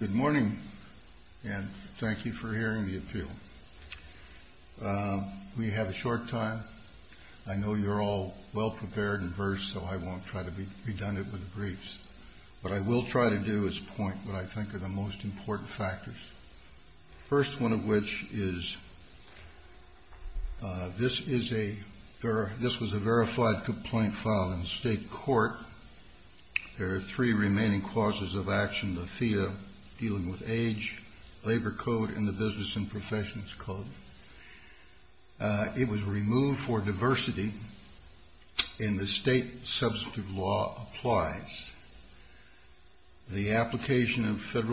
Good morning, and thank you for hearing the appeal. We have a short time. I know you're all well prepared and versed, so I won't try to be redundant with the briefs. What I will try to do is point what I think are the most important factors, the first one of which is this was a verified complaint filed in state court. There are three remaining clauses of action, the FEA dealing with age, labor code, and the business and professions code. It was removed for diversity, and the state substantive law applies. The application of state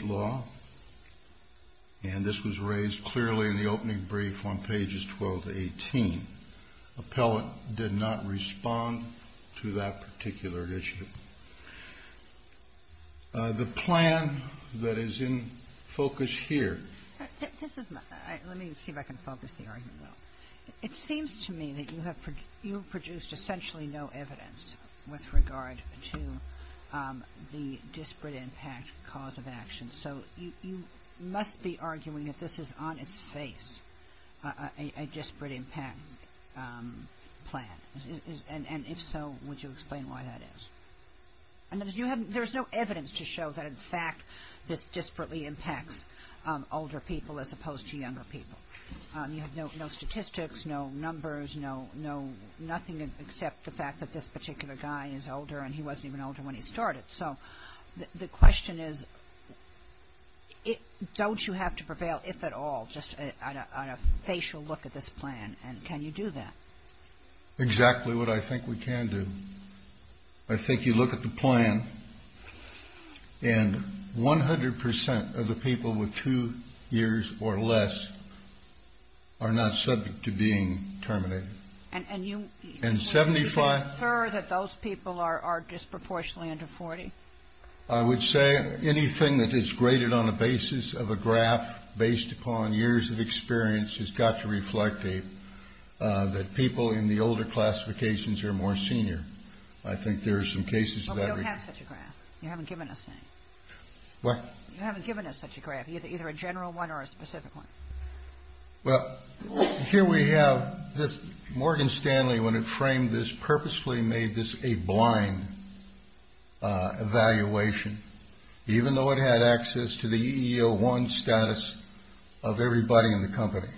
law, and this was raised clearly in the opening brief on pages 12 to 18. Appellant did not respond to that particular issue. The plan that is in focus here. MS. GOTTLIEB Let me see if I can focus the argument. It seems to me that you have produced essentially no evidence with regard to the disparate impact cause of action. So you must be arguing that this is on its face, a disparate impact plan, and if so, would you explain why that is? There's no evidence to show that in fact this disparately impacts older people as opposed to younger people. You have no statistics, no numbers, no nothing except the fact that this particular guy is older, and he wasn't even older when he started. So the question is, don't you have to prevail, if at all, just on a facial look at this plan, and can you do that? THE COURT Exactly what I think we can do. I think you look at the plan, and 100 percent of the people with two years or less are not subject to being terminated. And 75 percent of the people are disproportionately under 40. I would say anything that is graded on people in the older classifications are more senior. I think there are some cases that THE WITNESS Well, we don't have such a graph. You haven't given us any. THE COURT What? THE WITNESS You haven't given us such a graph, either a general one or a specific one. THE COURT Well, here we have this. Morgan Stanley, when it framed this, purposefully made this a blind evaluation, even though it had access to the EEO-1 status of everybody in the company.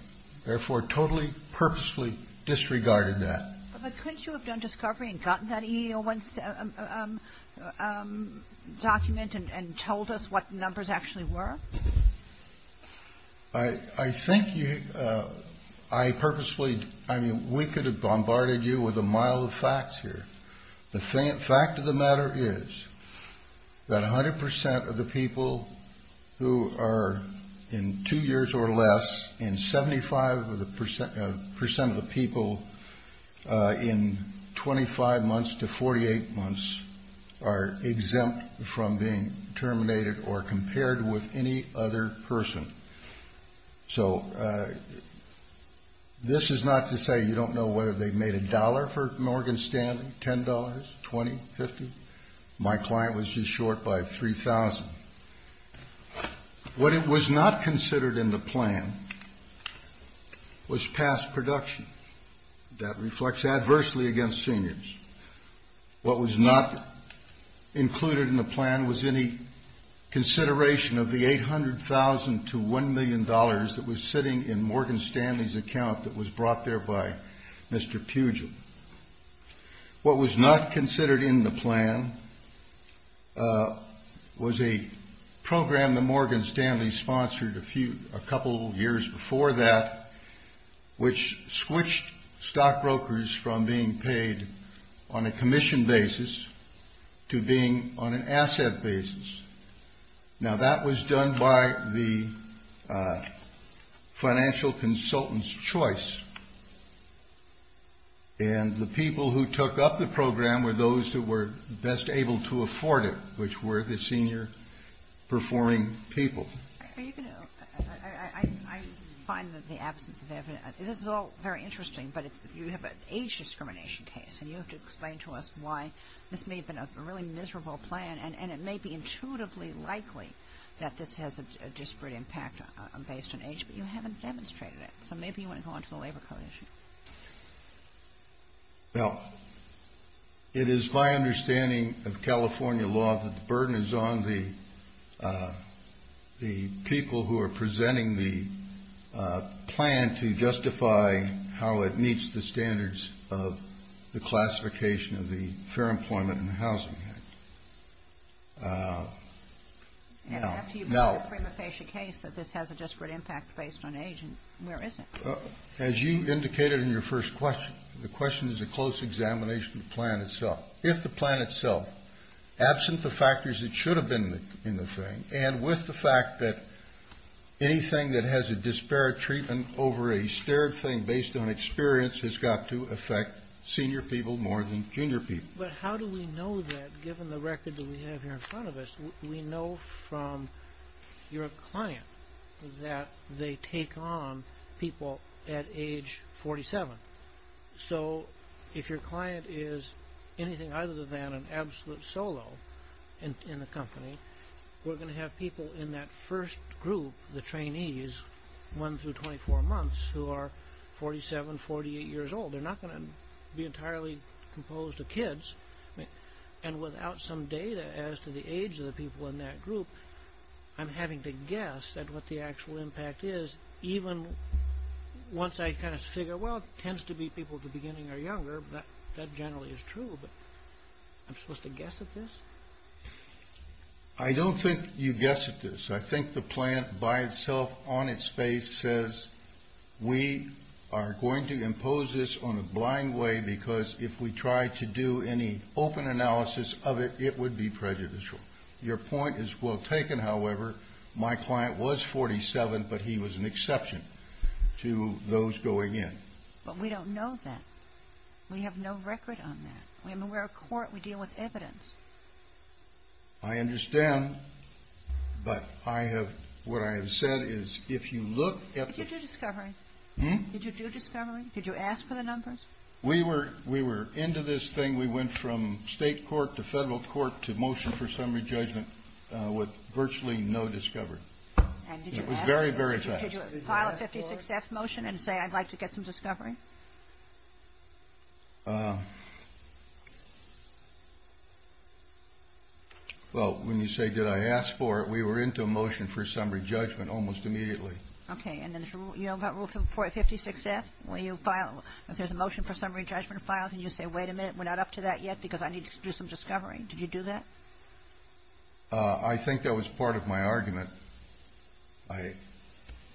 Therefore, totally, purposefully disregarded that. THE WITNESS But couldn't you have done discovery and gotten that EEO-1 document and told us what the numbers actually were? THE COURT I think you, I purposefully, I mean, we could have bombarded you with a mile of facts here. The fact of the matter is that 100 percent of the people who are in two years or less and 75 percent of the people in 25 months to 48 months are exempt from being terminated or compared with any other person. So this is not to say you don't know whether they made a dollar for Morgan Stanley, $10, $20, $50. My client was just short by $3,000. What was not considered in the plan was past production. That reflects adversely against seniors. What was not included in the plan was any consideration of the $800,000 to $1 million that was sitting in Morgan Stanley's account that was brought there by Mr. Pugil. What was not considered in the plan was a program that Morgan Stanley sponsored a couple years before that, which switched stockbrokers from being paid on a commission basis to being on an asset basis. Now, that was done by the financial consultant's choice. And the people who took up the program were those who were best able to afford it, which were the senior performing MS. MATHIS Are you going to, I find that the absence of evidence, this is all very interesting, but you have an age discrimination case, and you have to explain to us why this may have been a really miserable plan, and it may be intuitively likely that this has a disparate impact based on age, but you haven't demonstrated it. So maybe you want to go on to the labor code issue. MR. BROWN Well, it is my understanding of California law that the burden is on the people who are presenting the plan to justify how it meets the standards of the classification of the fair employment and housing act. MS. MATHIS And after you've got a prima facie case that this has a disparate impact based on age, MR. BROWN As you indicated in your first question, the question is a close examination of the plan itself. If the plan itself, absent the factors that should have been in the thing, and with the fact that anything that has a disparate treatment over a stared thing based on experience has got to affect senior people more than junior people. But how do we know that, given the record that we have here in front of us, we know from your client that they take on people at age 47. So if your client is anything other than an absolute solo in a company, we're going to have people in that first group, the trainees, 1 through 24 months, who are 47, 48 years old. They're not going to be entirely composed of kids. And without some data as to the age of the people in that group, I'm having to guess at what the actual impact is, even once I kind of figure, well, it tends to be people at the beginning are younger. That generally is true, but I'm supposed to guess at this? MR. BROWN I don't think you guess at this. I think the plan by itself on its face says we are going to do this on a blind way, because if we try to do any open analysis of it, it would be prejudicial. Your point is well taken, however. My client was 47, but he was an exception to those going in. MS. GOTTLIEB But we don't know that. We have no record on that. We're a court. We deal with evidence. MR. BROWN I understand, but I have – what I have said is if you look at the – MS. GOTTLIEB Did you do discovery? MR. BROWN Hmm? MS. GOTTLIEB Did you do discovery? MR. BROWN We were into this thing. We went from state court to federal court to motion for summary judgment with virtually no discovery. It was very, very fast. MS. GOTTLIEB Did you ask for it? MS. GOTTLIEB Did you file a 56-F motion and say I'd like to get some discovery? MR. BROWN Well, when you say did I ask for it, we were into a motion for summary judgment almost immediately. MS. GOTTLIEB Okay. And then you don't have a rule for a 56-F? When you file – if there's a motion for summary judgment filed and you say wait a minute, we're not up to that yet because I need to do some discovery. Did you do that? MR. BROWN I think that was part of my argument. I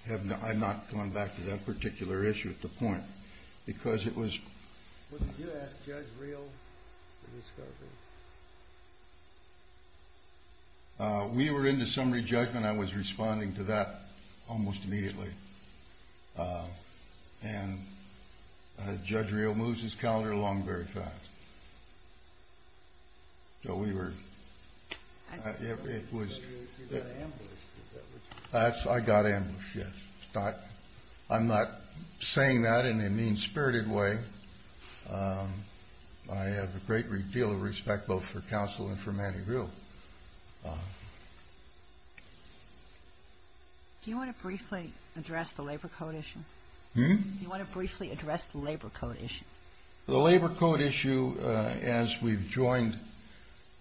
have not gone back to that particular issue at the point. Because it was – JUSTICE SCALIA Wouldn't you ask Judge Reel for discovery? MR. BROWN We were into summary judgment. I was responding to that almost immediately. And Judge Reel moves his calendar along very fast. So we were – it was – JUSTICE SCALIA I don't know if you were ambushed at that point. MR. BROWN I got ambushed, yes. I'm not saying that in a mean-spirited way. I have a great deal of respect both for counsel and for Manny Reel. MS. GOTTLIEB Do you want to briefly address the labor code issue? MS. GOTTLIEB Do you want to briefly address the labor code issue? MR. BROWN The labor code issue, as we've joined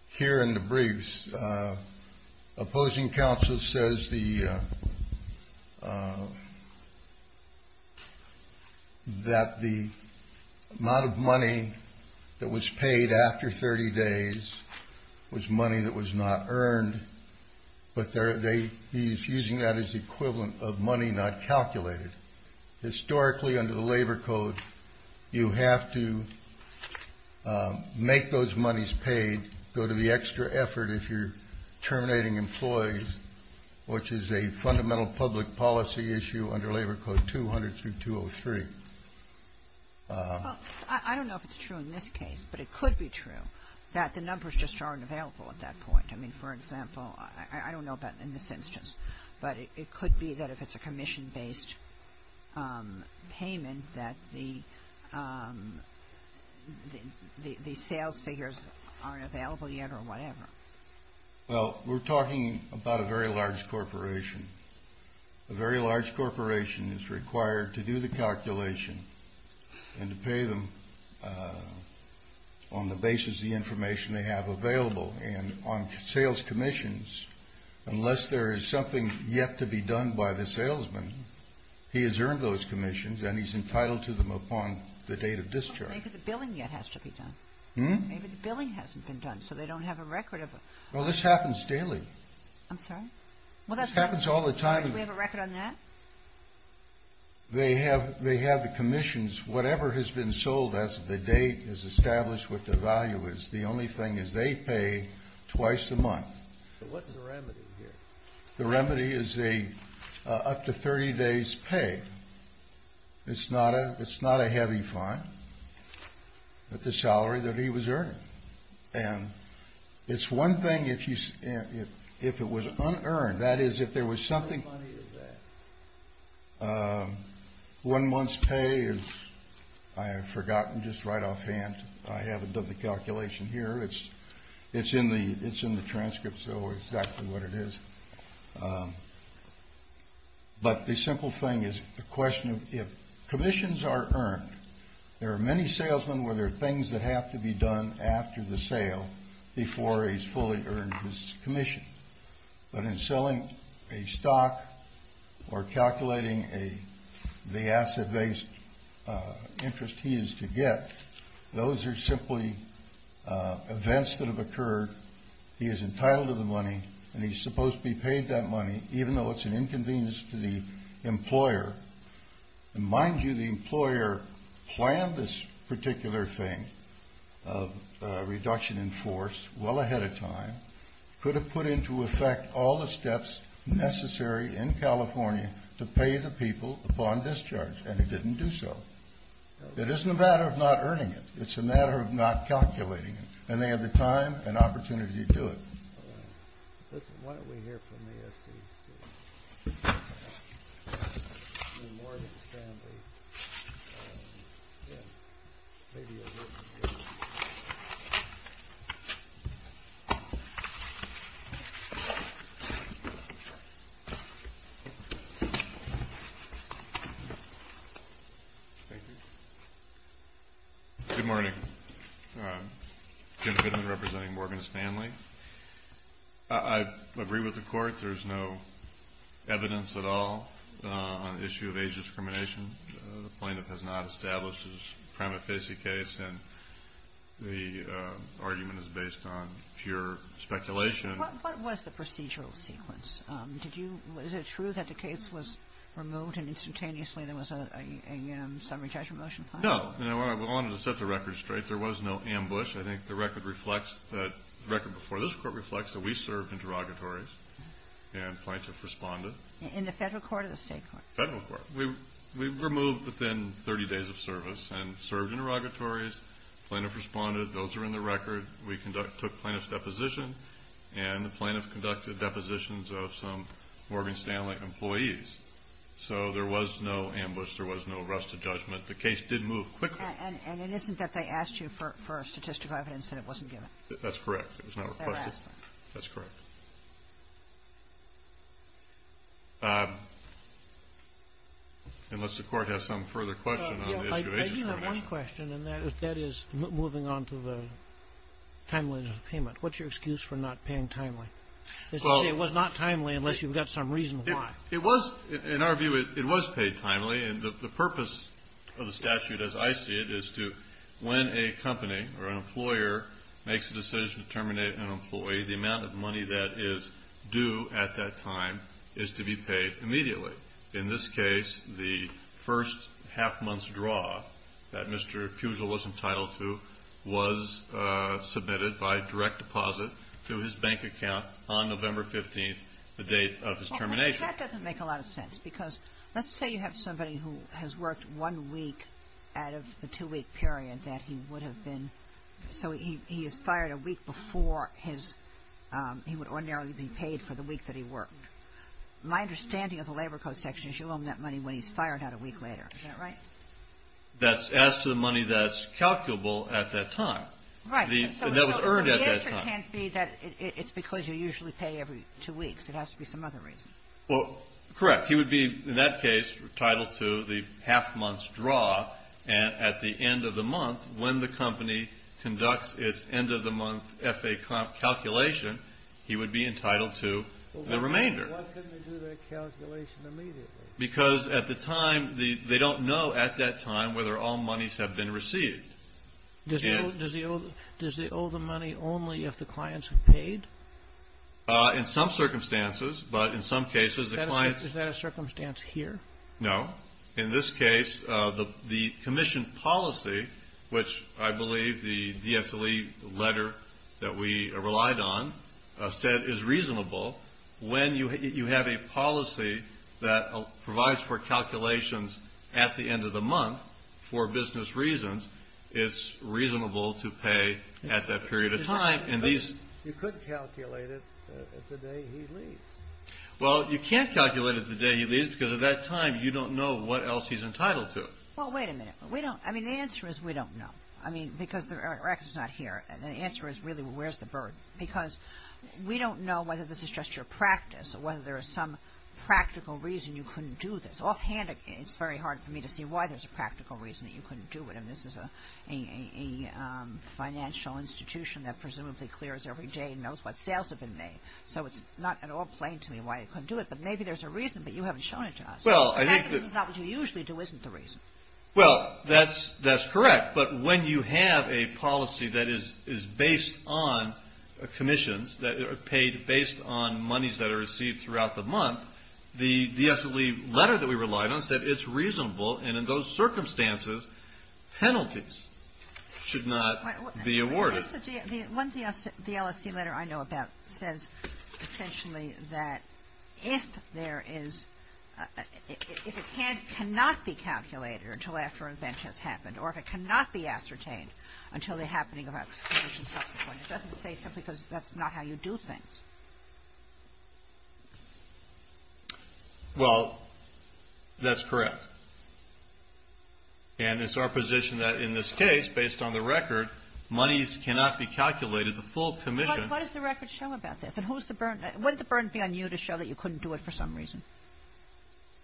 here in the briefs, opposing counsel says that the amount of money that was paid after 30 days was money that was not earned, but he's using that as equivalent of money not calculated. Historically under the labor code, you have to make those monies paid, go to the extra effort if you're terminating employees, which is a fundamental public policy issue under Labor Code 200 through 203. MS. GOTTLIEB I don't know if it's true in this case, but it could be true that the numbers just aren't available at that point. I mean, for example, I don't know about in this instance, but it could be that if it's a commission-based payment that the sales figures aren't available yet or whatever. MR. BROWN Well, we're talking about a very large corporation. A very large corporation is required to do the calculation and to pay them on the basis of the information they have available. And on sales commissions, unless there is something yet to be done by the salesman, he has earned those commissions and he's entitled to them upon the date of discharge. MS. GOTTLIEB Maybe the billing yet has to be done. Maybe the billing hasn't been done, so they don't have a record of it. MR. BROWN Well, this happens daily. MS. GOTTLIEB I'm sorry? MR. BROWN This happens all the time. MS. GOTTLIEB Do we have a record on that? MR. BROWN They have the commissions. Whatever has been sold as of the date is established what the value is. The only thing is they pay twice a month. MR. BROWN So what's the remedy here? MR. BROWN The remedy is up to 30 days' pay. It's not a heavy fine, but the salary that he was earning. And it's one thing if it was unearned. That is, if there was something. MR. BROWN How much money is that? MR. BROWN One month's pay is, I have forgotten just right offhand. I haven't done the calculation here. It's in the transcript, so exactly what it is. But the simple thing is the question of if commissions are earned, there are many salesmen where there are things that have to be done after the sale before he's fully earned his commission. But in selling a stock or calculating the asset-based interest he is to get, those are simply events that have occurred. He is entitled to the money, and he's supposed to be paid that money, even though it's an inconvenience to the employer. And mind you, the employer planned this particular thing of reduction in force well ahead of time, could have put into effect all the steps necessary in California to pay the people upon discharge, and it didn't do so. It isn't a matter of not earning it. It's a matter of not calculating it. And they had the time and opportunity to do it. Why don't we hear from the SEC? Good morning. I'm Jim Bidman representing Morgan Stanley. I agree with the Court. There's no evidence at all on the issue of age discrimination. The plaintiff has not established his prima facie case, and the argument is based on pure speculation. What was the procedural sequence? Is it true that the case was removed and instantaneously there was a summary judgment motion filed? No. We wanted to set the record straight. There was no ambush. I think the record reflects that the record before this Court reflects that we served interrogatories, and plaintiffs responded. In the Federal Court or the State Court? Federal Court. We were moved within 30 days of service and served interrogatories. Plaintiffs responded. Those are in the record. We took plaintiffs' depositions, and the plaintiffs conducted depositions of some Morgan Stanley employees. So there was no ambush. There was no arrest of judgment. The case did move quickly. And it isn't that they asked you for statistical evidence and it wasn't given? That's correct. It was not requested. That's correct. Unless the Court has some further question on the issue of age discrimination. I do have one question, and that is moving on to the timeliness of payment. What's your excuse for not paying timely? It was not timely unless you've got some reason why. It was, in our view, it was paid timely. And the purpose of the statute as I see it is to, when a company or an employer makes a decision to terminate an employee, the amount of money that is due at that time is to be paid immediately. In this case, the first half-month's draw that Mr. Puzo was entitled to was submitted by direct deposit to his bank account on November 15th, the date of his termination. That doesn't make a lot of sense. Because let's say you have somebody who has worked one week out of the two-week period that he would have been, so he is fired a week before his, he would ordinarily be paid for the week that he worked. My understanding of the Labor Code section is you owe him that money when he's fired out a week later. Is that right? That's as to the money that's calculable at that time. Right. And that was earned at that time. So the answer can't be that it's because you usually pay every two weeks. It has to be some other reason. Well, correct. He would be, in that case, entitled to the half-month's draw. And at the end of the month, when the company conducts its end-of-the-month FAA comp calculation, he would be entitled to the remainder. But why couldn't he do that calculation immediately? Because at the time, they don't know at that time whether all monies have been received. Does he owe the money only if the clients have paid? In some circumstances. But in some cases, the clients. Is that a circumstance here? No. In this case, the commission policy, which I believe the DSLE letter that we relied on said is reasonable. When you have a policy that provides for calculations at the end of the month for business reasons, it's reasonable to pay at that period of time. You couldn't calculate it the day he leaves. Well, you can't calculate it the day he leaves because at that time, you don't know what else he's entitled to. Well, wait a minute. We don't. I mean, the answer is we don't know. I mean, because the record's not here. And the answer is, really, where's the burden? Because we don't know whether this is just your practice or whether there is some practical reason you couldn't do this. Offhand, it's very hard for me to see why there's a practical reason that you couldn't do it. And this is a financial institution that presumably clears every day and knows what sales have been made. So it's not at all plain to me why you couldn't do it. But maybe there's a reason, but you haven't shown it to us. In fact, this is not what you usually do isn't the reason. Well, that's correct. But when you have a policy that is based on commissions, paid based on monies that are received throughout the month, the DSLE letter that we relied on said it's reasonable, and in those circumstances, penalties should not be awarded. One DSLE letter I know about says essentially that if there is – if it cannot be calculated until after an event has happened or if it cannot be ascertained until the happening of a commission subsequent, it doesn't say simply because that's not how you do things. Well, that's correct. And it's our position that in this case, based on the record, monies cannot be calculated. The full commission – What does the record show about this? And who is the burden – what would the burden be on you to show that you couldn't do it for some reason?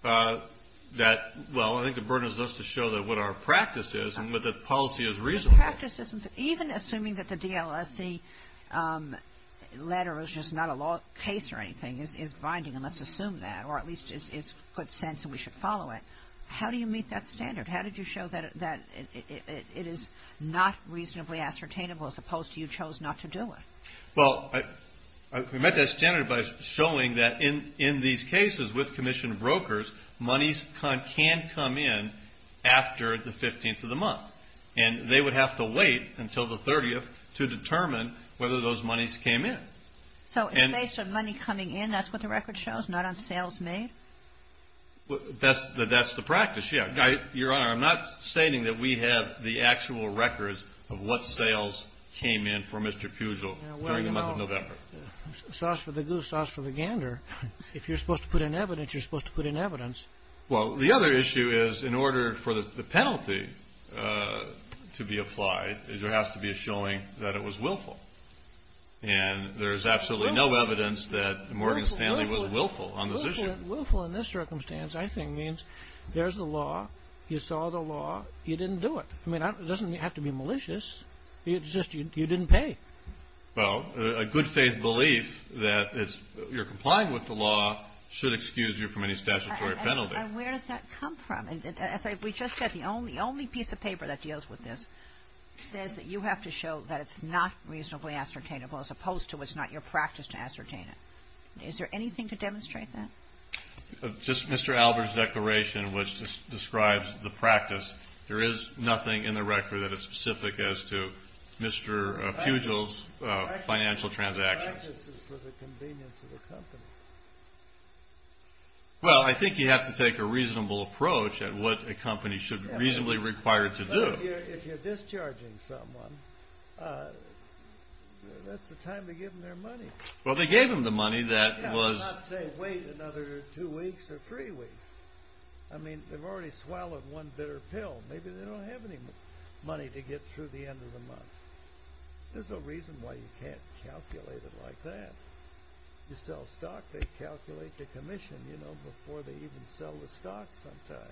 That – well, I think the burden is just to show what our practice is and that the policy is reasonable. Even assuming that the DSLE letter is just not a law case or anything is binding, and let's assume that, or at least it's put sense and we should follow it. How do you meet that standard? How did you show that it is not reasonably ascertainable as opposed to you chose not to do it? Well, we met that standard by showing that in these cases with commission brokers, monies can come in after the 15th of the month, and they would have to wait until the 30th to determine whether those monies came in. So in the case of money coming in, that's what the record shows, not on sales made? That's the practice, yeah. Your Honor, I'm not stating that we have the actual records of what sales came in for Mr. Fugel during the month of November. Sauce for the goose, sauce for the gander. If you're supposed to put in evidence, you're supposed to put in evidence. Well, the other issue is in order for the penalty to be applied, there has to be a showing that it was willful, and there's absolutely no evidence that Morgan Stanley was willful on this issue. Willful in this circumstance, I think, means there's the law, you saw the law, you didn't do it. I mean, it doesn't have to be malicious. It's just you didn't pay. Well, a good faith belief that you're complying with the law should excuse you from any statutory penalty. And where does that come from? As we just said, the only piece of paper that deals with this says that you have to show that it's not reasonably ascertainable, as opposed to it's not your practice to ascertain it. Is there anything to demonstrate that? Just Mr. Albert's declaration, which describes the practice. There is nothing in the record that is specific as to Mr. Pugel's financial transactions. The practice is for the convenience of the company. Well, I think you have to take a reasonable approach at what a company should reasonably require to do. If you're discharging someone, that's the time to give them their money. Well, they gave them the money that was – I'm not saying wait another two weeks or three weeks. I mean, they've already swallowed one bitter pill. Maybe they don't have any money to get through the end of the month. There's no reason why you can't calculate it like that. You sell stock, they calculate the commission, you know, before they even sell the stock sometime.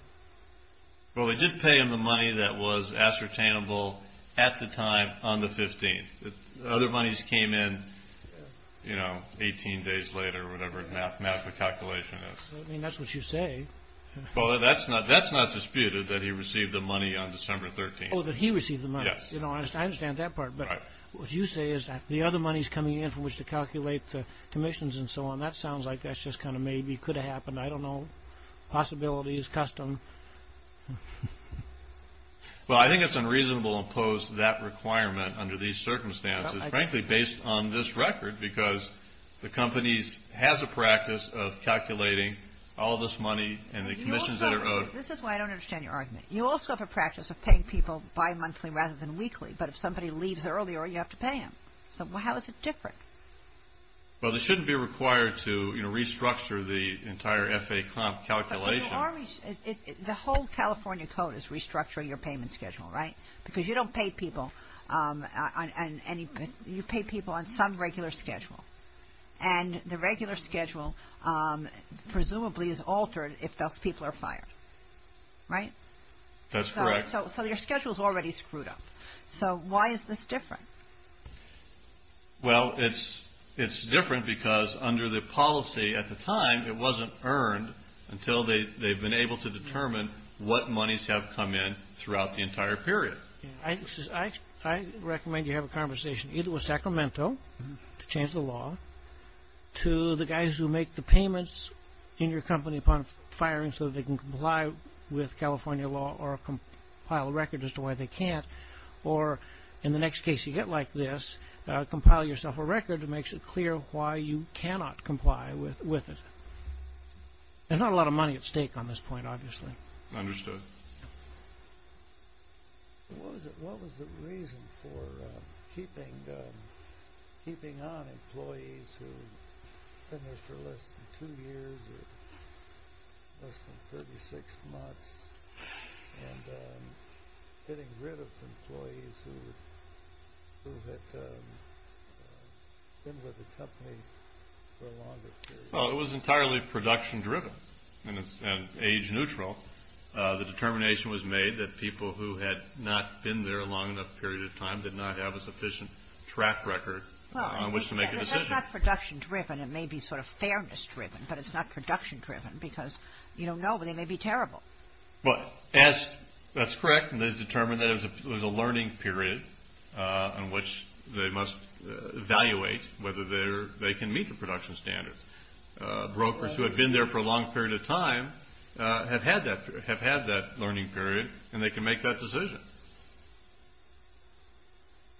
Well, they did pay them the money that was ascertainable at the time on the 15th. The other monies came in, you know, 18 days later or whatever the mathematical calculation is. I mean, that's what you say. Well, that's not disputed that he received the money on December 13th. Oh, that he received the money. Yes. You know, I understand that part. But what you say is that the other monies coming in from which to calculate the commissions and so on, that sounds like that's just kind of maybe could have happened. I don't know. Possibility is custom. Well, I think it's unreasonable to impose that requirement under these circumstances, frankly, based on this record because the companies has a practice of calculating all of this money and the commissions that are owed. This is why I don't understand your argument. You also have a practice of paying people bimonthly rather than weekly. But if somebody leaves earlier, you have to pay them. So how is it different? Well, they shouldn't be required to, you know, restructure the entire FAA comp calculation. The whole California code is restructuring your payment schedule, right? Because you don't pay people on any – you pay people on some regular schedule. And the regular schedule presumably is altered if those people are fired. Right? That's correct. So your schedule is already screwed up. So why is this different? Well, it's different because under the policy at the time, it wasn't earned until they've been able to determine what monies have come in throughout the entire period. I recommend you have a conversation either with Sacramento to change the law to the guys who make the payments in your company upon firing so that they can comply with California law or compile a record as to why they can't, or in the next case you get like this, compile yourself a record that makes it clear why you cannot comply with it. There's not a lot of money at stake on this point, obviously. Understood. What was the reason for keeping on employees who finished for less than two years or less than 36 months and getting rid of employees who had been with the company for a longer period? Well, it was entirely production-driven and age-neutral. The determination was made that people who had not been there a long enough period of time did not have a sufficient track record on which to make a decision. Well, that's not production-driven. It may be sort of fairness-driven, but it's not production-driven because you don't know, but they may be terrible. Well, that's correct, and it is determined that there's a learning period in which they must evaluate whether they can meet the production standards. Brokers who had been there for a long period of time have had that learning period, and they can make that decision.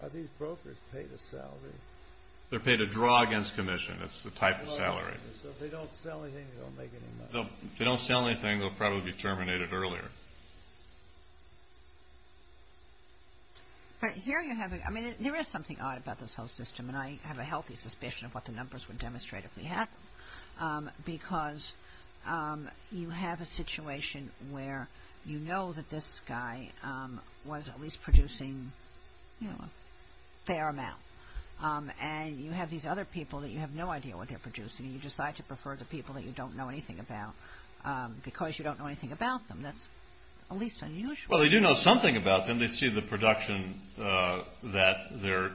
Are these brokers paid a salary? They're paid a draw against commission. That's the type of salary. So if they don't sell anything, they don't make any money? If they don't sell anything, they'll probably be terminated earlier. But here you have a – I mean, there is something odd about this whole system, and I have a healthy suspicion of what the numbers would demonstrate if we had them, because you have a situation where you know that this guy was at least producing a fair amount, and you have these other people that you have no idea what they're producing, and you decide to prefer the people that you don't know anything about because you don't know anything about them. That's at least unusual. Well, they do know something about them. And then they see the production that they're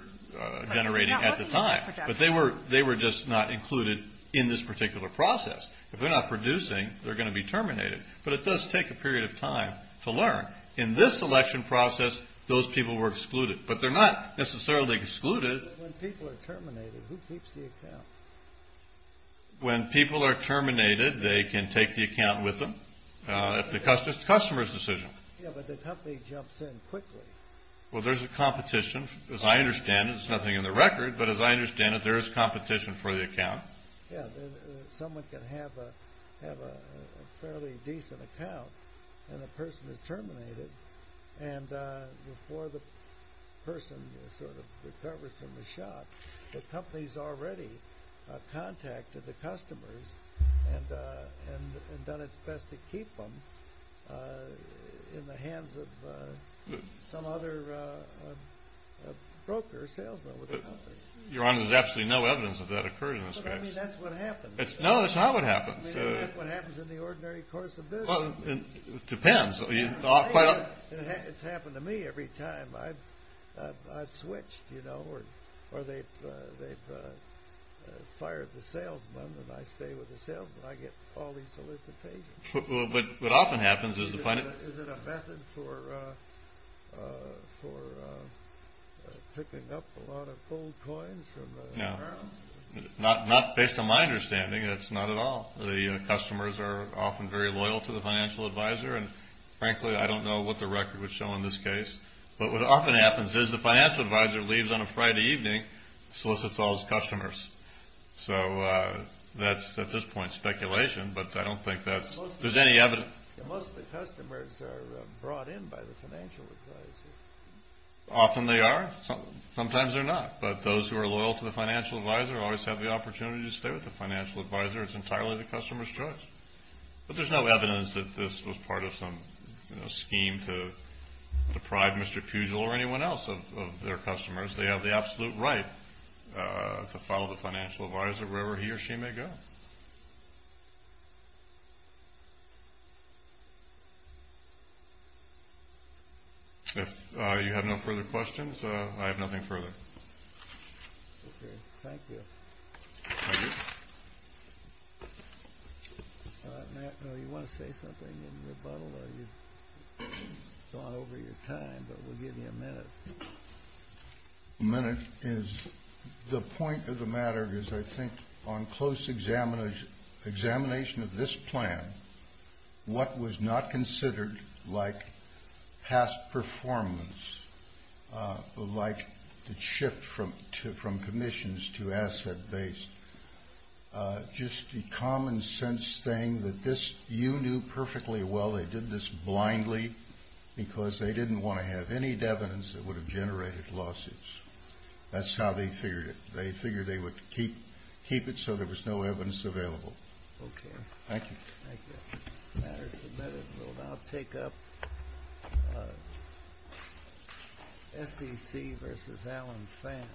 generating at the time. But they were just not included in this particular process. If they're not producing, they're going to be terminated. But it does take a period of time to learn. In this election process, those people were excluded. But they're not necessarily excluded. When people are terminated, who keeps the account? When people are terminated, they can take the account with them. It's the customer's decision. Yeah, but the company jumps in quickly. Well, there's a competition. As I understand it, it's nothing in the record, but as I understand it, there is competition for the account. Yeah, someone can have a fairly decent account, and the person is terminated. And before the person sort of recovers from the shock, the company's already contacted the customers and done its best to keep them in the hands of some other broker or salesman with the company. Your Honor, there's absolutely no evidence of that occurring in this case. But, I mean, that's what happens. No, that's not what happens. I mean, that's what happens in the ordinary course of business. Well, it depends. It's happened to me every time. I've switched, you know, or they've fired the salesman, and I stay with the salesman. I get all these solicitations. Well, what often happens is the financial— Is it a method for picking up a lot of gold coins from the ground? No, not based on my understanding. It's not at all. The customers are often very loyal to the financial advisor, and frankly, I don't know what the record would show in this case. But what often happens is the financial advisor leaves on a Friday evening, solicits all his customers. So that's, at this point, speculation, but I don't think that there's any evidence. Most of the customers are brought in by the financial advisor. Often they are. Sometimes they're not. But those who are loyal to the financial advisor always have the opportunity to stay with the financial advisor. It's entirely the customer's choice. But there's no evidence that this was part of some scheme to deprive Mr. Fugel or anyone else of their customers. They have the absolute right to follow the financial advisor wherever he or she may go. If you have no further questions, I have nothing further. Okay. Thank you. Matt, you want to say something in rebuttal or you've gone over your time, but we'll give you a minute. A minute is the point of the matter is I think on close examination of this plan, what was not considered like past performance, like the shift from commissions to asset-based, just the common sense thing that you knew perfectly well they did this blindly because they didn't want to have any evidence that would have generated lawsuits. That's how they figured it. They figured they would keep it so there was no evidence available. Okay. Thank you. Thank you. The matter is submitted. We will now take up SEC v. Alan Pham.